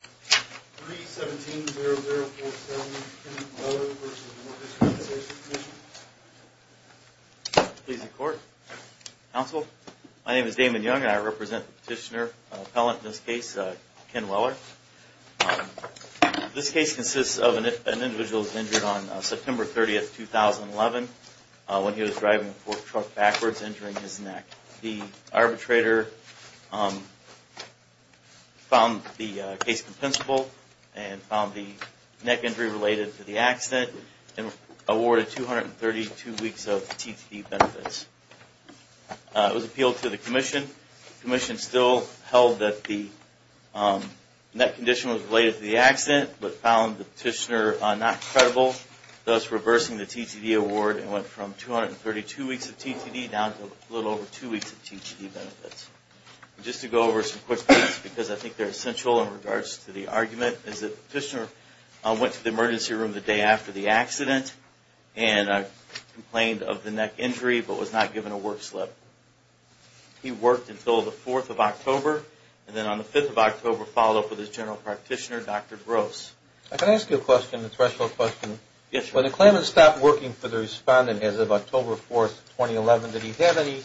3-17-0047 Ken Weller v. Workers' Compensation Commission Please report. Counsel, my name is Damon Young and I represent the petitioner, an appellant in this case, Ken Weller. This case consists of an individual who was injured on September 30, 2011, when he was driving a forklift truck backwards, injuring his neck. The arbitrator found the case compensable and found the neck injury related to the accident and awarded 232 weeks of TTD benefits. It was appealed to the commission. The commission still held that the neck condition was related to the accident but found the petitioner not credible, thus reversing the TTD award and went from 232 weeks of TTD down to a little over two weeks of TTD benefits. Just to go over some quick points, because I think they're essential in regards to the argument, is that the petitioner went to the emergency room the day after the accident and complained of the neck injury but was not given a work slip. He worked until the 4th of October and then on the 5th of October followed up with his general practitioner, Dr. Gross. Can I ask you a question, a threshold question? Yes, sir. When the claimant stopped working for the respondent as of October 4, 2011, did he have any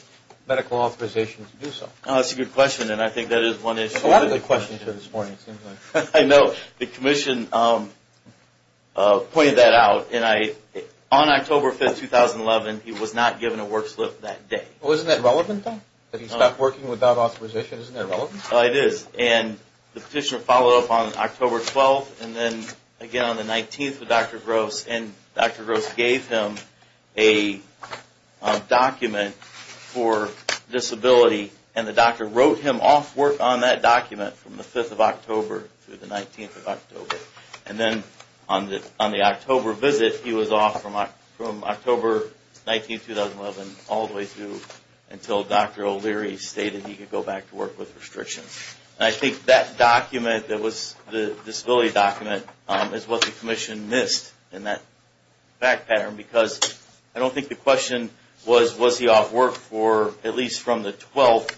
medical authorization to do so? That's a good question and I think that is one issue. A lot of the questions are this morning, it seems like. I know. The commission pointed that out and on October 5, 2011, he was not given a work slip that day. Well, isn't that relevant, though? That he stopped working without authorization, isn't that relevant? It is and the petitioner followed up on October 12 and then again on the 19th with Dr. Gross and Dr. Gross gave him a document for disability and the doctor wrote him off work on that document from the 5th of October to the 19th of October. And then on the October visit, he was off from October 19, 2011 all the way through until Dr. O'Leary stated he could go back to work with restrictions. And I think that document that was the disability document is what the commission missed in that fact pattern because I don't think the question was, was he off work for at least from the 12th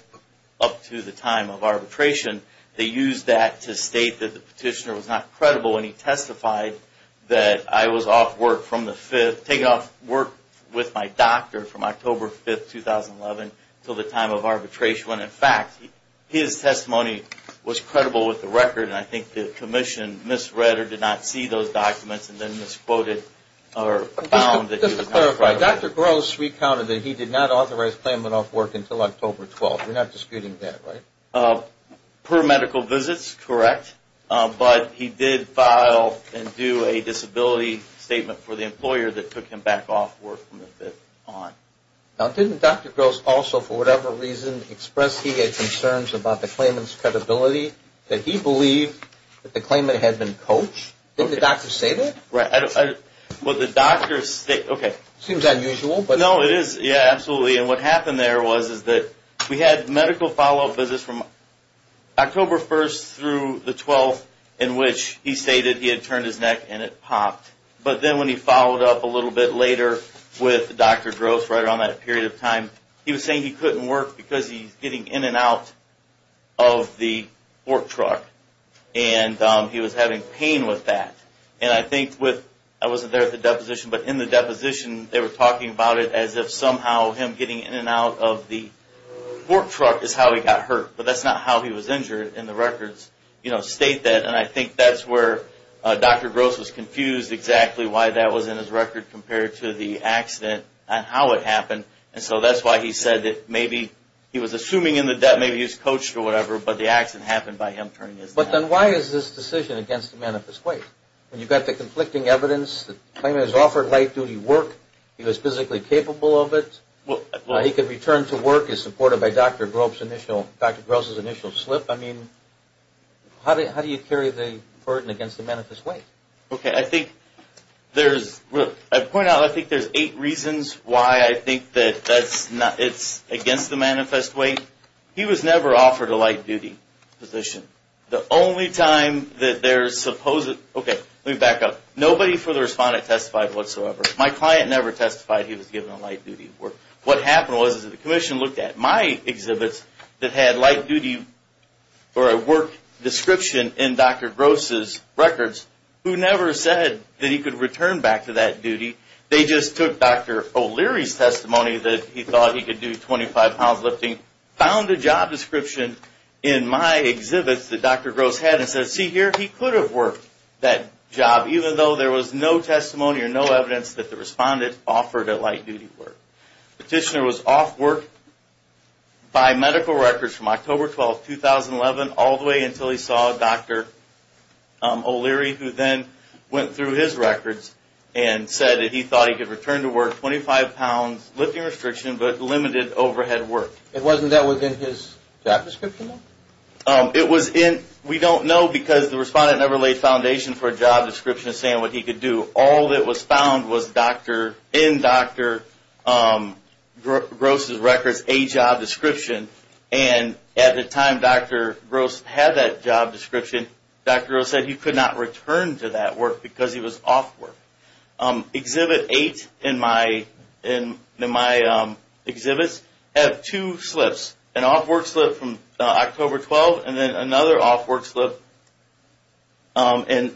up to the time of arbitration. They used that to state that the petitioner was not credible and he testified that I was off work from the 5th, taking off work with my doctor from October 5, 2011 until the time of arbitration. When in fact, his testimony was credible with the record and I think the commission misread or did not see those documents and then misquoted or found that he was not credible. Just to clarify, Dr. Gross recounted that he did not authorize Clayman off work until October 12. We're not disputing that, right? Per medical visits, correct. But he did file and do a disability statement for the employer that took him back off work from the 5th on. Now, didn't Dr. Gross also, for whatever reason, express he had concerns about the Clayman's credibility, that he believed that the Clayman had been coached? Didn't the doctor say that? Right. Well, the doctor, okay. Seems unusual. No, it is. Yeah, absolutely, and what happened there was that we had medical follow-up visits from October 1 through the 12th in which he stated he had turned his neck and it popped. But then when he followed up a little bit later with Dr. Gross right around that period of time, he was saying he couldn't work because he was getting in and out of the fork truck and he was having pain with that. And I think with, I wasn't there at the deposition, but in the deposition, they were talking about it as if somehow him getting in and out of the fork truck is how he got hurt. But that's not how he was injured in the records, you know, state that. And I think that's where Dr. Gross was confused exactly why that was in his record compared to the accident and how it happened. And so that's why he said that maybe he was assuming in the debt, maybe he was coached or whatever, but the accident happened by him turning his neck. But then why is this decision against the manifest weight? When you've got the conflicting evidence that the claimant has offered light-duty work, he was physically capable of it, he could return to work as supported by Dr. Gross' initial slip. I mean, how do you carry the burden against the manifest weight? Okay, I think there's, I point out I think there's eight reasons why I think that it's against the manifest weight. One, he was never offered a light-duty position. The only time that there's supposed, okay, let me back up. Nobody for the respondent testified whatsoever. My client never testified he was given a light-duty work. What happened was that the commission looked at my exhibits that had light-duty or a work description in Dr. Gross' records, who never said that he could return back to that duty. They just took Dr. O'Leary's testimony that he thought he could do 25 pounds lifting, found a job description in my exhibits that Dr. Gross had, and said, see here, he could have worked that job, even though there was no testimony or no evidence that the respondent offered a light-duty work. Petitioner was off work by medical records from October 12, 2011, all the way until he saw Dr. O'Leary, who then went through his records and said that he thought he could return to work 25 pounds lifting restriction, but limited overhead work. Wasn't that within his job description? It was in, we don't know because the respondent never laid foundation for a job description saying what he could do. All that was found was in Dr. Gross' records a job description, and at the time Dr. Gross had that job description, Dr. Gross said he could not return to that work because he was off work. Exhibit 8 in my exhibits have two slips, an off work slip from October 12, and then another off work slip in,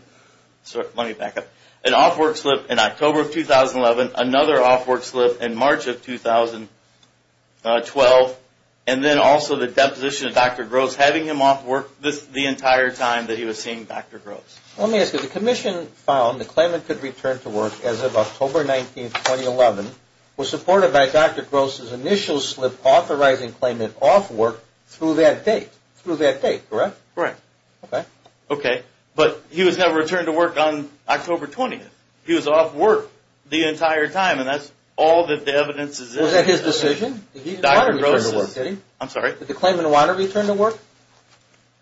let me back up, an off work slip in October of 2011, another off work slip in March of 2012, and then also the deposition of Dr. Gross having him off work the entire time that he was seeing Dr. Gross. Let me ask you, the commission found the claimant could return to work as of October 19, 2011, was supported by Dr. Gross' initial slip authorizing claimant off work through that date, through that date, correct? Correct. Okay. Okay, but he was never returned to work on October 20th. He was off work the entire time, and that's all that the evidence is in. Was that his decision? He did not return to work. I'm sorry? Did the claimant want to return to work?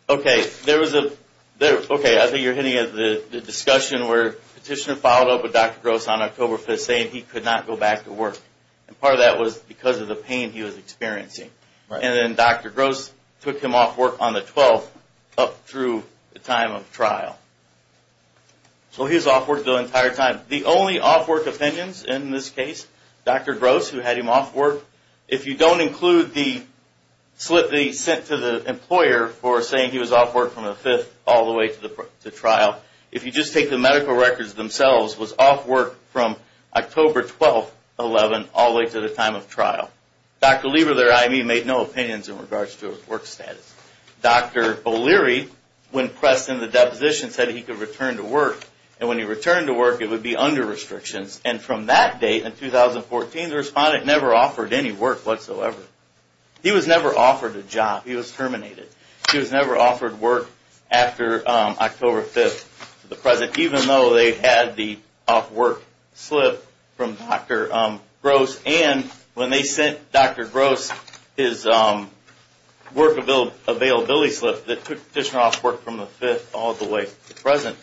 Okay, I think you're hitting at the discussion where petitioner followed up with Dr. Gross on October 5th saying he could not go back to work, and part of that was because of the pain he was experiencing, and then Dr. Gross took him off work on the 12th up through the time of trial. So he was off work the entire time. The only off work opinions in this case, Dr. Gross, who had him off work, if you don't include the slip that he sent to the employer for saying he was off work from the 5th all the way to trial, if you just take the medical records themselves, was off work from October 12, 2011, all the way to the time of trial. Dr. Lieber, their IME, made no opinions in regards to his work status. Dr. O'Leary, when pressed in the deposition, said he could return to work, and when he returned to work, it would be under restrictions, and from that date in 2014, the respondent never offered any work whatsoever. He was never offered a job. He was terminated. He was never offered work after October 5th to the present, even though they had the off work slip from Dr. Gross, and when they sent Dr. Gross his work availability slip that took the petitioner off work from the 5th all the way to the present,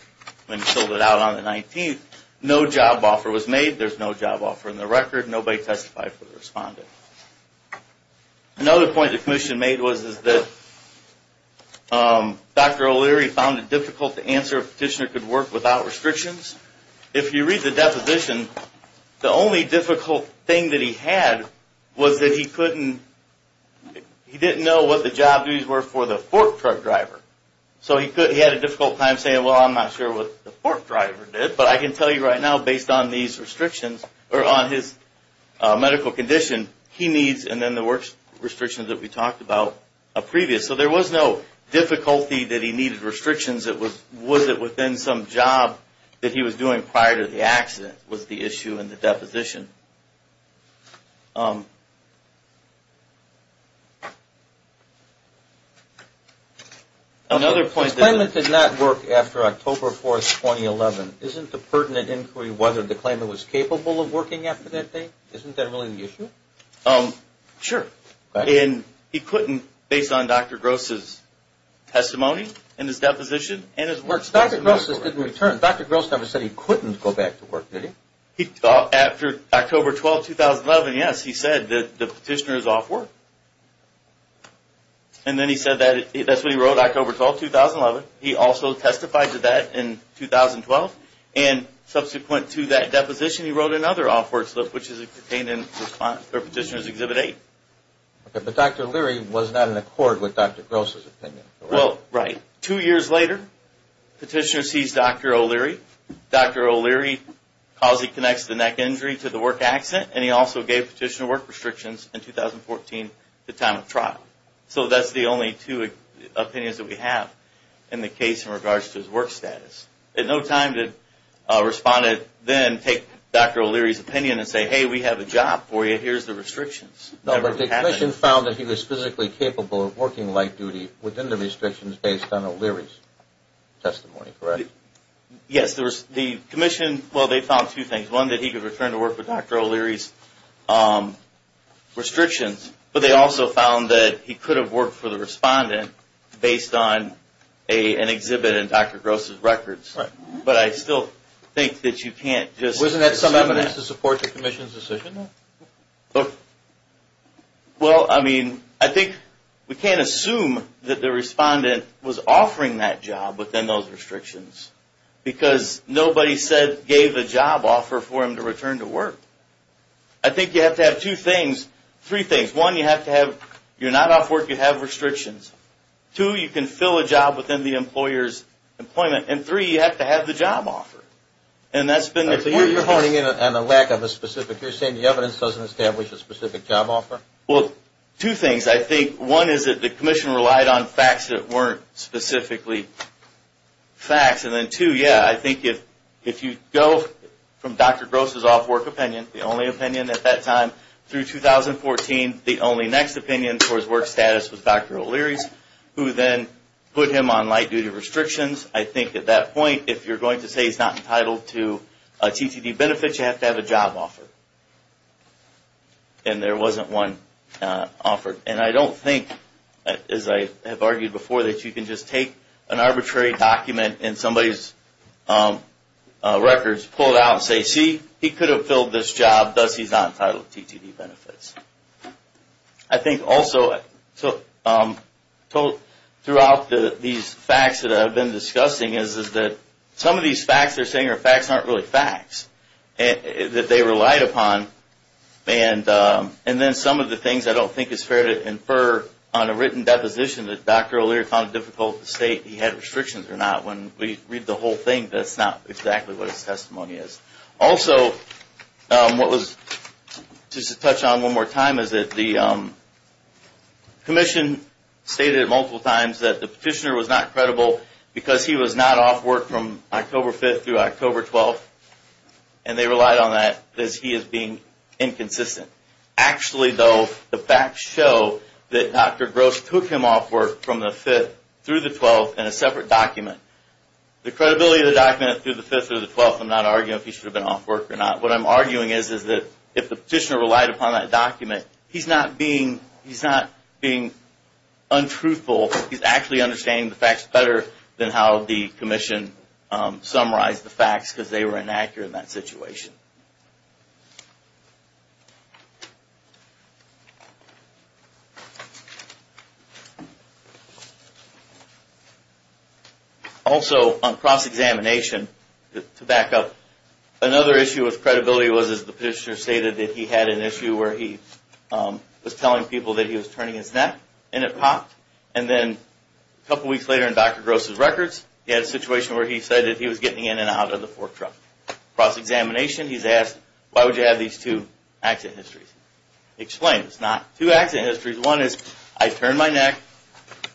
when he filled it out on the 19th, no job offer was made. There's no job offer in the record. Nobody testified for the respondent. Another point the commission made was that Dr. O'Leary found it difficult to answer if a petitioner could work without restrictions. If you read the deposition, the only difficult thing that he had was that he couldn't, he didn't know what the job duties were for the fork truck driver. So he had a difficult time saying, well, I'm not sure what the fork driver did, but I can tell you right now, based on these restrictions, or on his medical condition, he needs, and then the work restrictions that we talked about previous. So there was no difficulty that he needed restrictions. It was, was it within some job that he was doing prior to the accident, that was the issue in the deposition. Another point. The claimant did not work after October 4th, 2011. Isn't the pertinent inquiry whether the claimant was capable of working after that date? Isn't that really the issue? Sure. And he couldn't, based on Dr. Gross' testimony and his deposition. Dr. Gross never said he couldn't go back to work, did he? After October 12th, 2011, yes, he said that the petitioner is off work. And then he said that, that's what he wrote October 12th, 2011. He also testified to that in 2012. And subsequent to that deposition, he wrote another off work slip, which is contained in Petitioner's Exhibit 8. But Dr. Leary was not in accord with Dr. Gross' opinion. Well, right. Two years later, petitioner sees Dr. O'Leary. Dr. O'Leary calls he connects the neck injury to the work accident, and he also gave petitioner work restrictions in 2014 at the time of trial. So that's the only two opinions that we have in the case in regards to his work status. At no time did a respondent then take Dr. O'Leary's opinion and say, hey, we have a job for you, here's the restrictions. No, but the commission found that he was physically capable of working light duty within the restrictions based on O'Leary's testimony, correct? Yes, the commission, well, they found two things. One, that he could return to work with Dr. O'Leary's restrictions, but they also found that he could have worked for the respondent based on an exhibit in Dr. Gross' records. But I still think that you can't just assume that. Do you have to support the commission's decision? Well, I mean, I think we can't assume that the respondent was offering that job within those restrictions because nobody said gave a job offer for him to return to work. I think you have to have two things, three things. One, you have to have, you're not off work, you have restrictions. Two, you can fill a job within the employer's employment. And three, you have to have the job offer. So you're honing in on the lack of a specific, you're saying the evidence doesn't establish a specific job offer? Well, two things. I think one is that the commission relied on facts that weren't specifically facts. And then two, yeah, I think if you go from Dr. Gross' off work opinion, the only opinion at that time, through 2014, the only next opinion towards work status was Dr. O'Leary's, who then put him on light duty restrictions. I think at that point, if you're going to say he's not entitled to TTD benefits, you have to have a job offer. And there wasn't one offered. And I don't think, as I have argued before, that you can just take an arbitrary document in somebody's records, pull it out and say, see, he could have filled this job, thus he's not entitled to TTD benefits. I think also, throughout these facts that I've been discussing, is that some of these facts they're saying are facts that aren't really facts, that they relied upon. And then some of the things I don't think it's fair to infer on a written deposition that Dr. O'Leary found it difficult to state he had restrictions or not. When we read the whole thing, that's not exactly what his testimony is. Also, what was, just to touch on one more time, is that the commission stated multiple times that the petitioner was not credible because he was not off work from October 5th through October 12th, and they relied on that as he is being inconsistent. Actually, though, the facts show that Dr. Gross took him off work from the 5th through the 12th in a separate document. The credibility of the document through the 5th through the 12th, I'm not arguing if he should have been off work or not. What I'm arguing is that if the petitioner relied upon that document, he's not being untruthful. He's actually understanding the facts better than how the commission summarized the facts because they were inaccurate in that situation. Also, on cross-examination, to back up, another issue with credibility was, as the petitioner stated, that he had an issue where he was telling people that he was turning his neck, and it popped, and then a couple weeks later in Dr. Gross' records, he had a situation where he said that he was getting in and out of the fork truck. Cross-examination, he's asked, why would you have these two accident histories? Explained, it's not two accident histories. One is, I turned my neck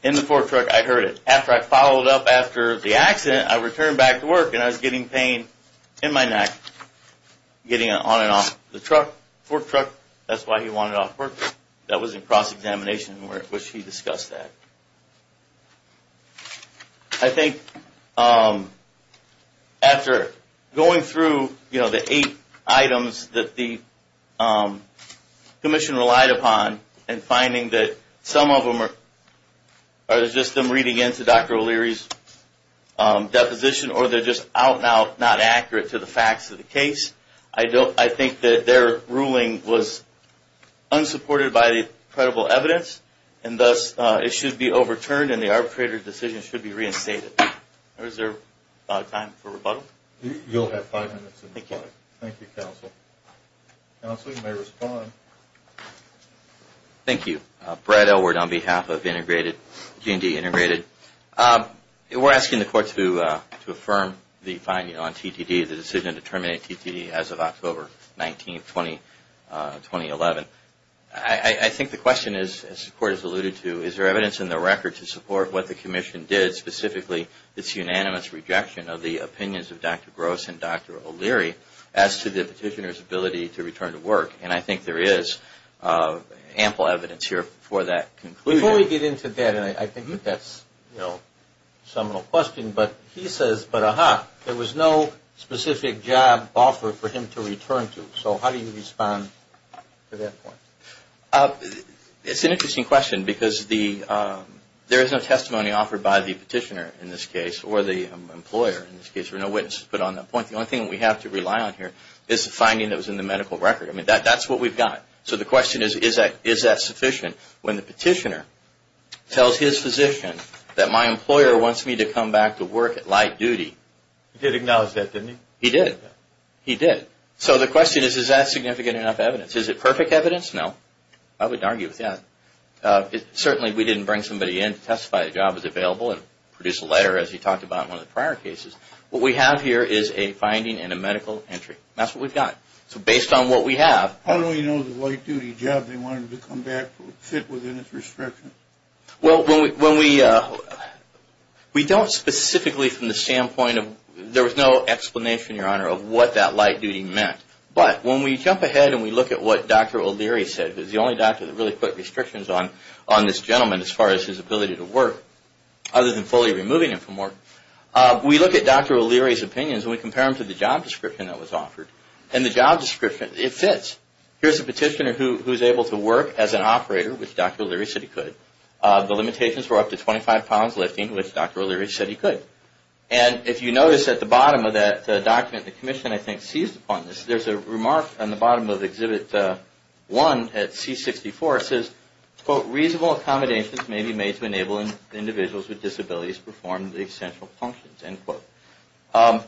in the fork truck, I heard it. After I followed up after the accident, I returned back to work, and I was getting pain in my neck, getting on and off the fork truck. That's why he wanted off work. That was in cross-examination, in which he discussed that. I think after going through the eight items that the commission relied upon, and finding that some of them are just them reading into Dr. O'Leary's deposition, or they're just out and out, not accurate to the facts of the case, I think that their ruling was unsupported by the credible evidence, and thus it should be overturned, and the arbitrator's decision should be reinstated. Is there time for rebuttal? You'll have five minutes. Thank you. Thank you, counsel. Counsel, you may respond. Thank you. Brad Elward on behalf of G&D Integrated. We're asking the court to affirm the finding on TTD, the decision to terminate TTD as of October 19, 2011. I think the question is, as the court has alluded to, is there evidence in the record to support what the commission did, specifically its unanimous rejection of the opinions of Dr. Gross and Dr. O'Leary as to the petitioner's ability to return to work? And I think there is ample evidence here for that conclusion. Before we get into that, and I think that's a seminal question, but he says, but aha, there was no specific job offer for him to return to. So how do you respond to that point? It's an interesting question, because there is no testimony offered by the petitioner in this case, or the employer in this case. There are no witnesses put on that point. The only thing that we have to rely on here is the finding that was in the medical record. I mean, that's what we've got. So the question is, is that sufficient? When the petitioner tells his physician that my employer wants me to come back to work at light duty. He did acknowledge that, didn't he? He did. He did. So the question is, is that significant enough evidence? Is it perfect evidence? No. I wouldn't argue with that. Certainly, we didn't bring somebody in to testify the job was available and produce a letter as you talked about in one of the prior cases. What we have here is a finding and a medical entry. That's what we've got. So based on what we have. How do we know the light duty job they wanted to come back to would fit within its restriction? Well, when we don't specifically from the standpoint of, there was no explanation, Your Honor, of what that light duty meant. But when we jump ahead and we look at what Dr. O'Leary said, who's the only doctor that really put restrictions on this gentleman as far as his ability to work, other than fully removing him from work, we look at Dr. O'Leary's opinions and we compare them to the job description that was offered. And the job description, it fits. Here's a petitioner who's able to work as an operator, which Dr. O'Leary said he could. The limitations were up to 25 pounds lifting, which Dr. O'Leary said he could. And if you notice at the bottom of that document, the commission, I think, seized upon this. There's a remark on the bottom of Exhibit 1 at C64. It says, quote, reasonable accommodations may be made to enable individuals with disabilities to perform the essential functions, end quote.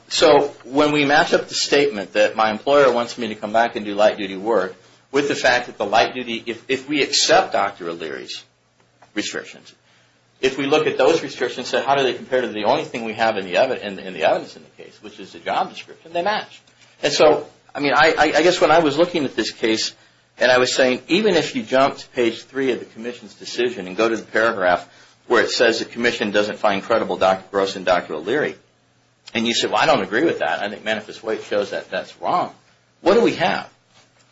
So when we match up the statement that my employer wants me to come back and do light duty work, with the fact that the light duty, if we accept Dr. O'Leary's restrictions, if we look at those restrictions and say, how do they compare to the only thing we have in the evidence in the case, which is the job description, they match. And so, I mean, I guess when I was looking at this case and I was saying, even if you jumped to page 3 of the commission's decision and go to the paragraph where it says the commission doesn't find credible Dr. Gross and Dr. O'Leary, and you say, well, I don't agree with that. I think Manifest White shows that that's wrong. What do we have?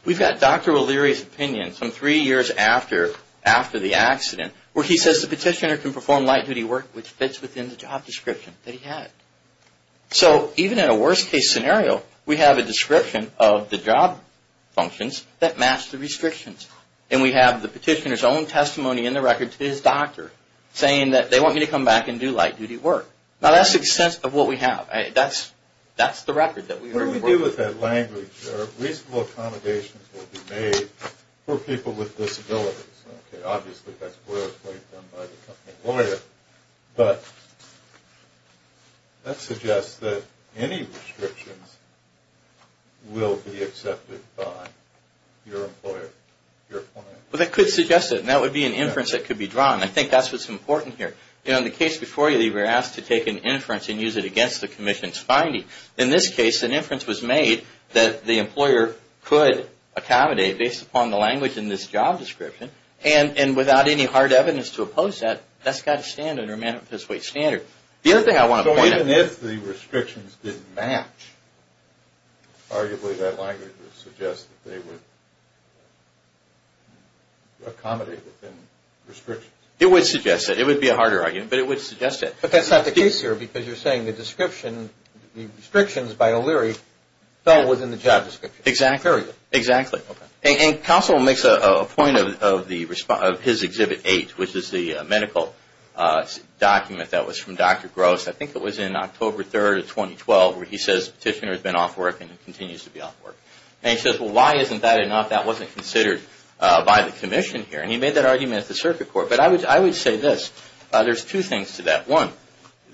We've got Dr. O'Leary's opinion from three years after the accident where he says the petitioner can perform light duty work which fits within the job description that he had. So even in a worst case scenario, we have a description of the job functions that match the restrictions. And we have the petitioner's own testimony in the record to his doctor saying that they want me to come back and do light duty work. Now that's the extent of what we have. That's the record that we work with. What do we do with that language? Reasonable accommodations will be made for people with disabilities. Okay, obviously that's work done by the company lawyer, but that suggests that any restrictions will be accepted by your employer, your client. Well, that could suggest it, and that would be an inference that could be drawn. I think that's what's important here. In the case before you, they were asked to take an inference and use it against the commission's finding. In this case, an inference was made that the employer could accommodate, based upon the language in this job description, and without any hard evidence to oppose that, that's got to stand under a manifest wage standard. The other thing I want to point out... So even if the restrictions didn't match, arguably that language would suggest that they would accommodate within restrictions. It would suggest it. It would be a harder argument, but it would suggest it. But that's not the case here because you're saying the description, the restrictions by O'Leary fell within the job description. Exactly. And counsel makes a point of his Exhibit 8, which is the medical document that was from Dr. Gross. I think it was in October 3, 2012, where he says the petitioner has been off work and continues to be off work. And he says, well, why isn't that enough? That wasn't considered by the commission here. And he made that argument at the circuit court. But I would say this. There's two things to that. One,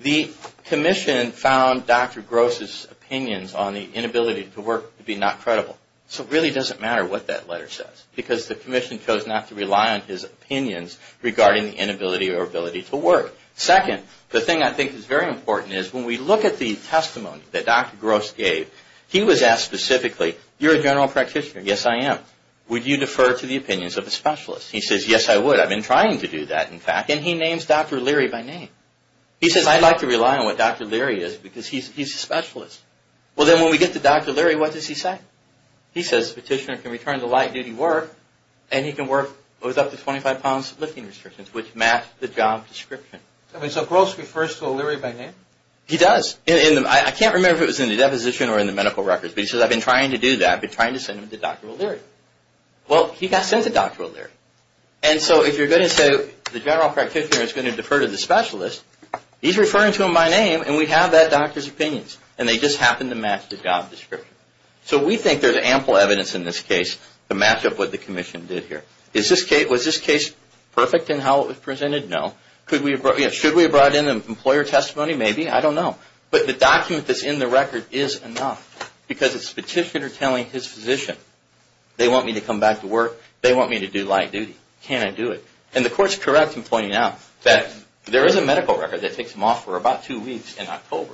the commission found Dr. Gross' opinions on the inability to work to be not credible. So it really doesn't matter what that letter says because the commission chose not to rely on his opinions regarding the inability or ability to work. Second, the thing I think is very important is when we look at the testimony that Dr. Gross gave, he was asked specifically, you're a general practitioner. Yes, I am. Would you defer to the opinions of a specialist? He says, yes, I would. I've been trying to do that, in fact. And he names Dr. O'Leary by name. He says, I'd like to rely on what Dr. O'Leary is because he's a specialist. Well, then, when we get to Dr. O'Leary, what does he say? He says the petitioner can return to light-duty work, and he can work with up to 25 pounds lifting restrictions, which match the job description. So Gross refers to O'Leary by name? He does. I can't remember if it was in the deposition or in the medical records. But he says, I've been trying to do that. I've been trying to send him to Dr. O'Leary. Well, he got sent to Dr. O'Leary. And so if you're going to say the general practitioner is going to defer to the specialist, he's referring to him by name, and we have that doctor's opinions. And they just happen to match the job description. So we think there's ample evidence in this case to match up what the commission did here. Was this case perfect in how it was presented? No. Should we have brought in an employer testimony? Maybe. I don't know. But the document that's in the record is enough because it's the petitioner telling his physician, they want me to come back to work. They want me to do light-duty. Can I do it? And the court's correct in pointing out that there is a medical record that takes him off for about two weeks in October.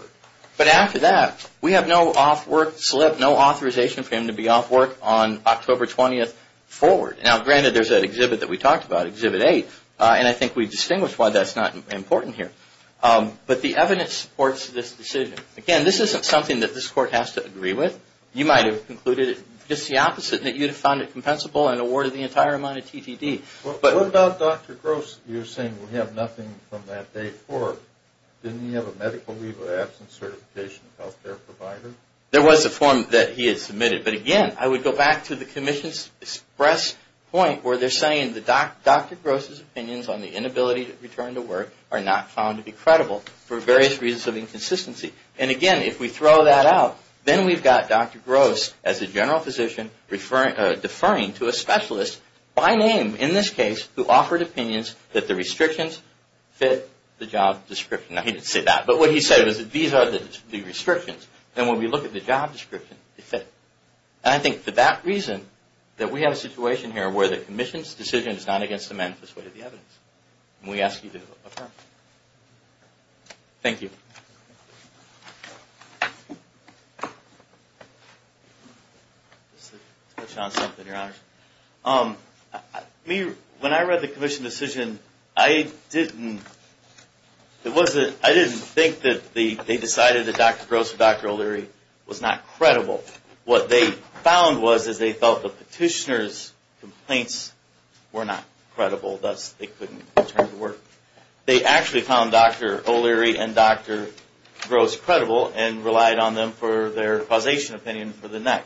But after that, we have no off work slip, no authorization for him to be off work on October 20th forward. Now, granted, there's that exhibit that we talked about, Exhibit 8, and I think we distinguished why that's not important here. But the evidence supports this decision. Again, this isn't something that this court has to agree with. You might have concluded just the opposite, that you'd have found it compensable and awarded the entire amount of TTD. What about Dr. Gross? You're saying we have nothing from that day forward. Didn't he have a medical leave of absence certification of health care provider? There was a form that he had submitted. But again, I would go back to the commission's express point where they're saying that Dr. Gross' opinions on the inability to return to work are not found to be credible for various reasons of inconsistency. And again, if we throw that out, then we've got Dr. Gross as a general physician deferring to a specialist by name, in this case, who offered opinions that the restrictions fit the job description. Now, he didn't say that, but what he said was that these are the restrictions, and when we look at the job description, they fit. And I think for that reason, that we have a situation here where the commission's decision is not against the manifest way of the evidence, and we ask you to affirm. Thank you. Let's touch on something, Your Honor. When I read the commission decision, I didn't think that they decided that Dr. Gross or Dr. O'Leary was not credible. What they found was is they felt the petitioner's complaints were not credible, thus they couldn't return to work. They actually found Dr. O'Leary and Dr. Gross credible, and relied on them for their causation opinion for the night.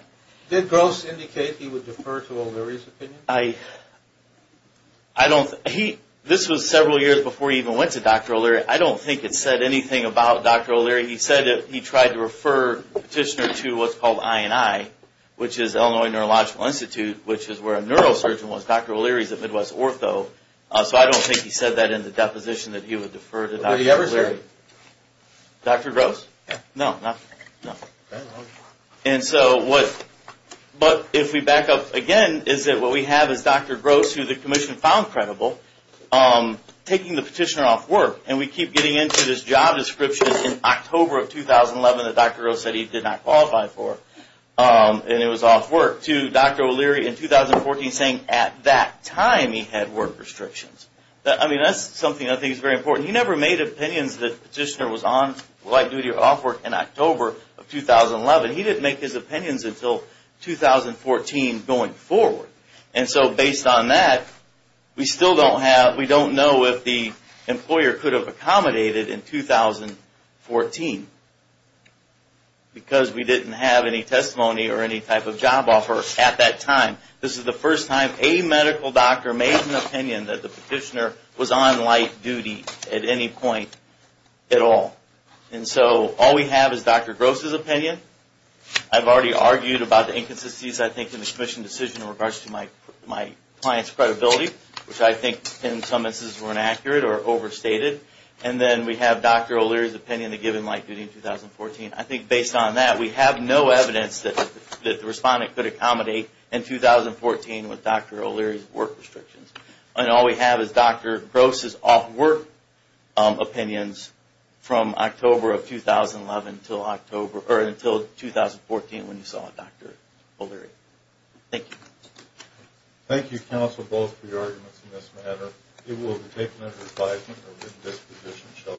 Did Gross indicate he would defer to O'Leary's opinion? I don't – this was several years before he even went to Dr. O'Leary. I don't think it said anything about Dr. O'Leary. He said that he tried to refer the petitioner to what's called INI, which is Illinois Neurological Institute, which is where a neurosurgeon was. Dr. O'Leary is at Midwest Ortho, so I don't think he said that in the deposition that he would defer to Dr. O'Leary. Did he ever say that? Dr. Gross? No. But if we back up again, is that what we have is Dr. Gross, who the commission found credible, taking the petitioner off work. And we keep getting into this job description in October of 2011 that Dr. Gross said he did not qualify for, and it was off work, to Dr. O'Leary in 2014 saying at that time he had work restrictions. I mean, that's something I think is very important. He never made opinions that the petitioner was on light duty or off work in October of 2011. He didn't make his opinions until 2014 going forward. And so based on that, we still don't have – we don't know if the employer could have accommodated in 2014, because we didn't have any testimony or any type of job offer at that time. This is the first time a medical doctor made an opinion that the petitioner was on light duty at any point at all. And so all we have is Dr. Gross's opinion. I've already argued about the inconsistencies, I think, in the commission decision in regards to my client's credibility, which I think in some instances were inaccurate or overstated. And then we have Dr. O'Leary's opinion to give him light duty in 2014. I think based on that, we have no evidence that the respondent could accommodate in 2014 with Dr. O'Leary's work restrictions. And all we have is Dr. Gross's off work opinions from October of 2011 until October – or until 2014 when you saw Dr. O'Leary. Thank you. Thank you, counsel, both for your arguments in this matter. It will be taken under advisement of the disposition.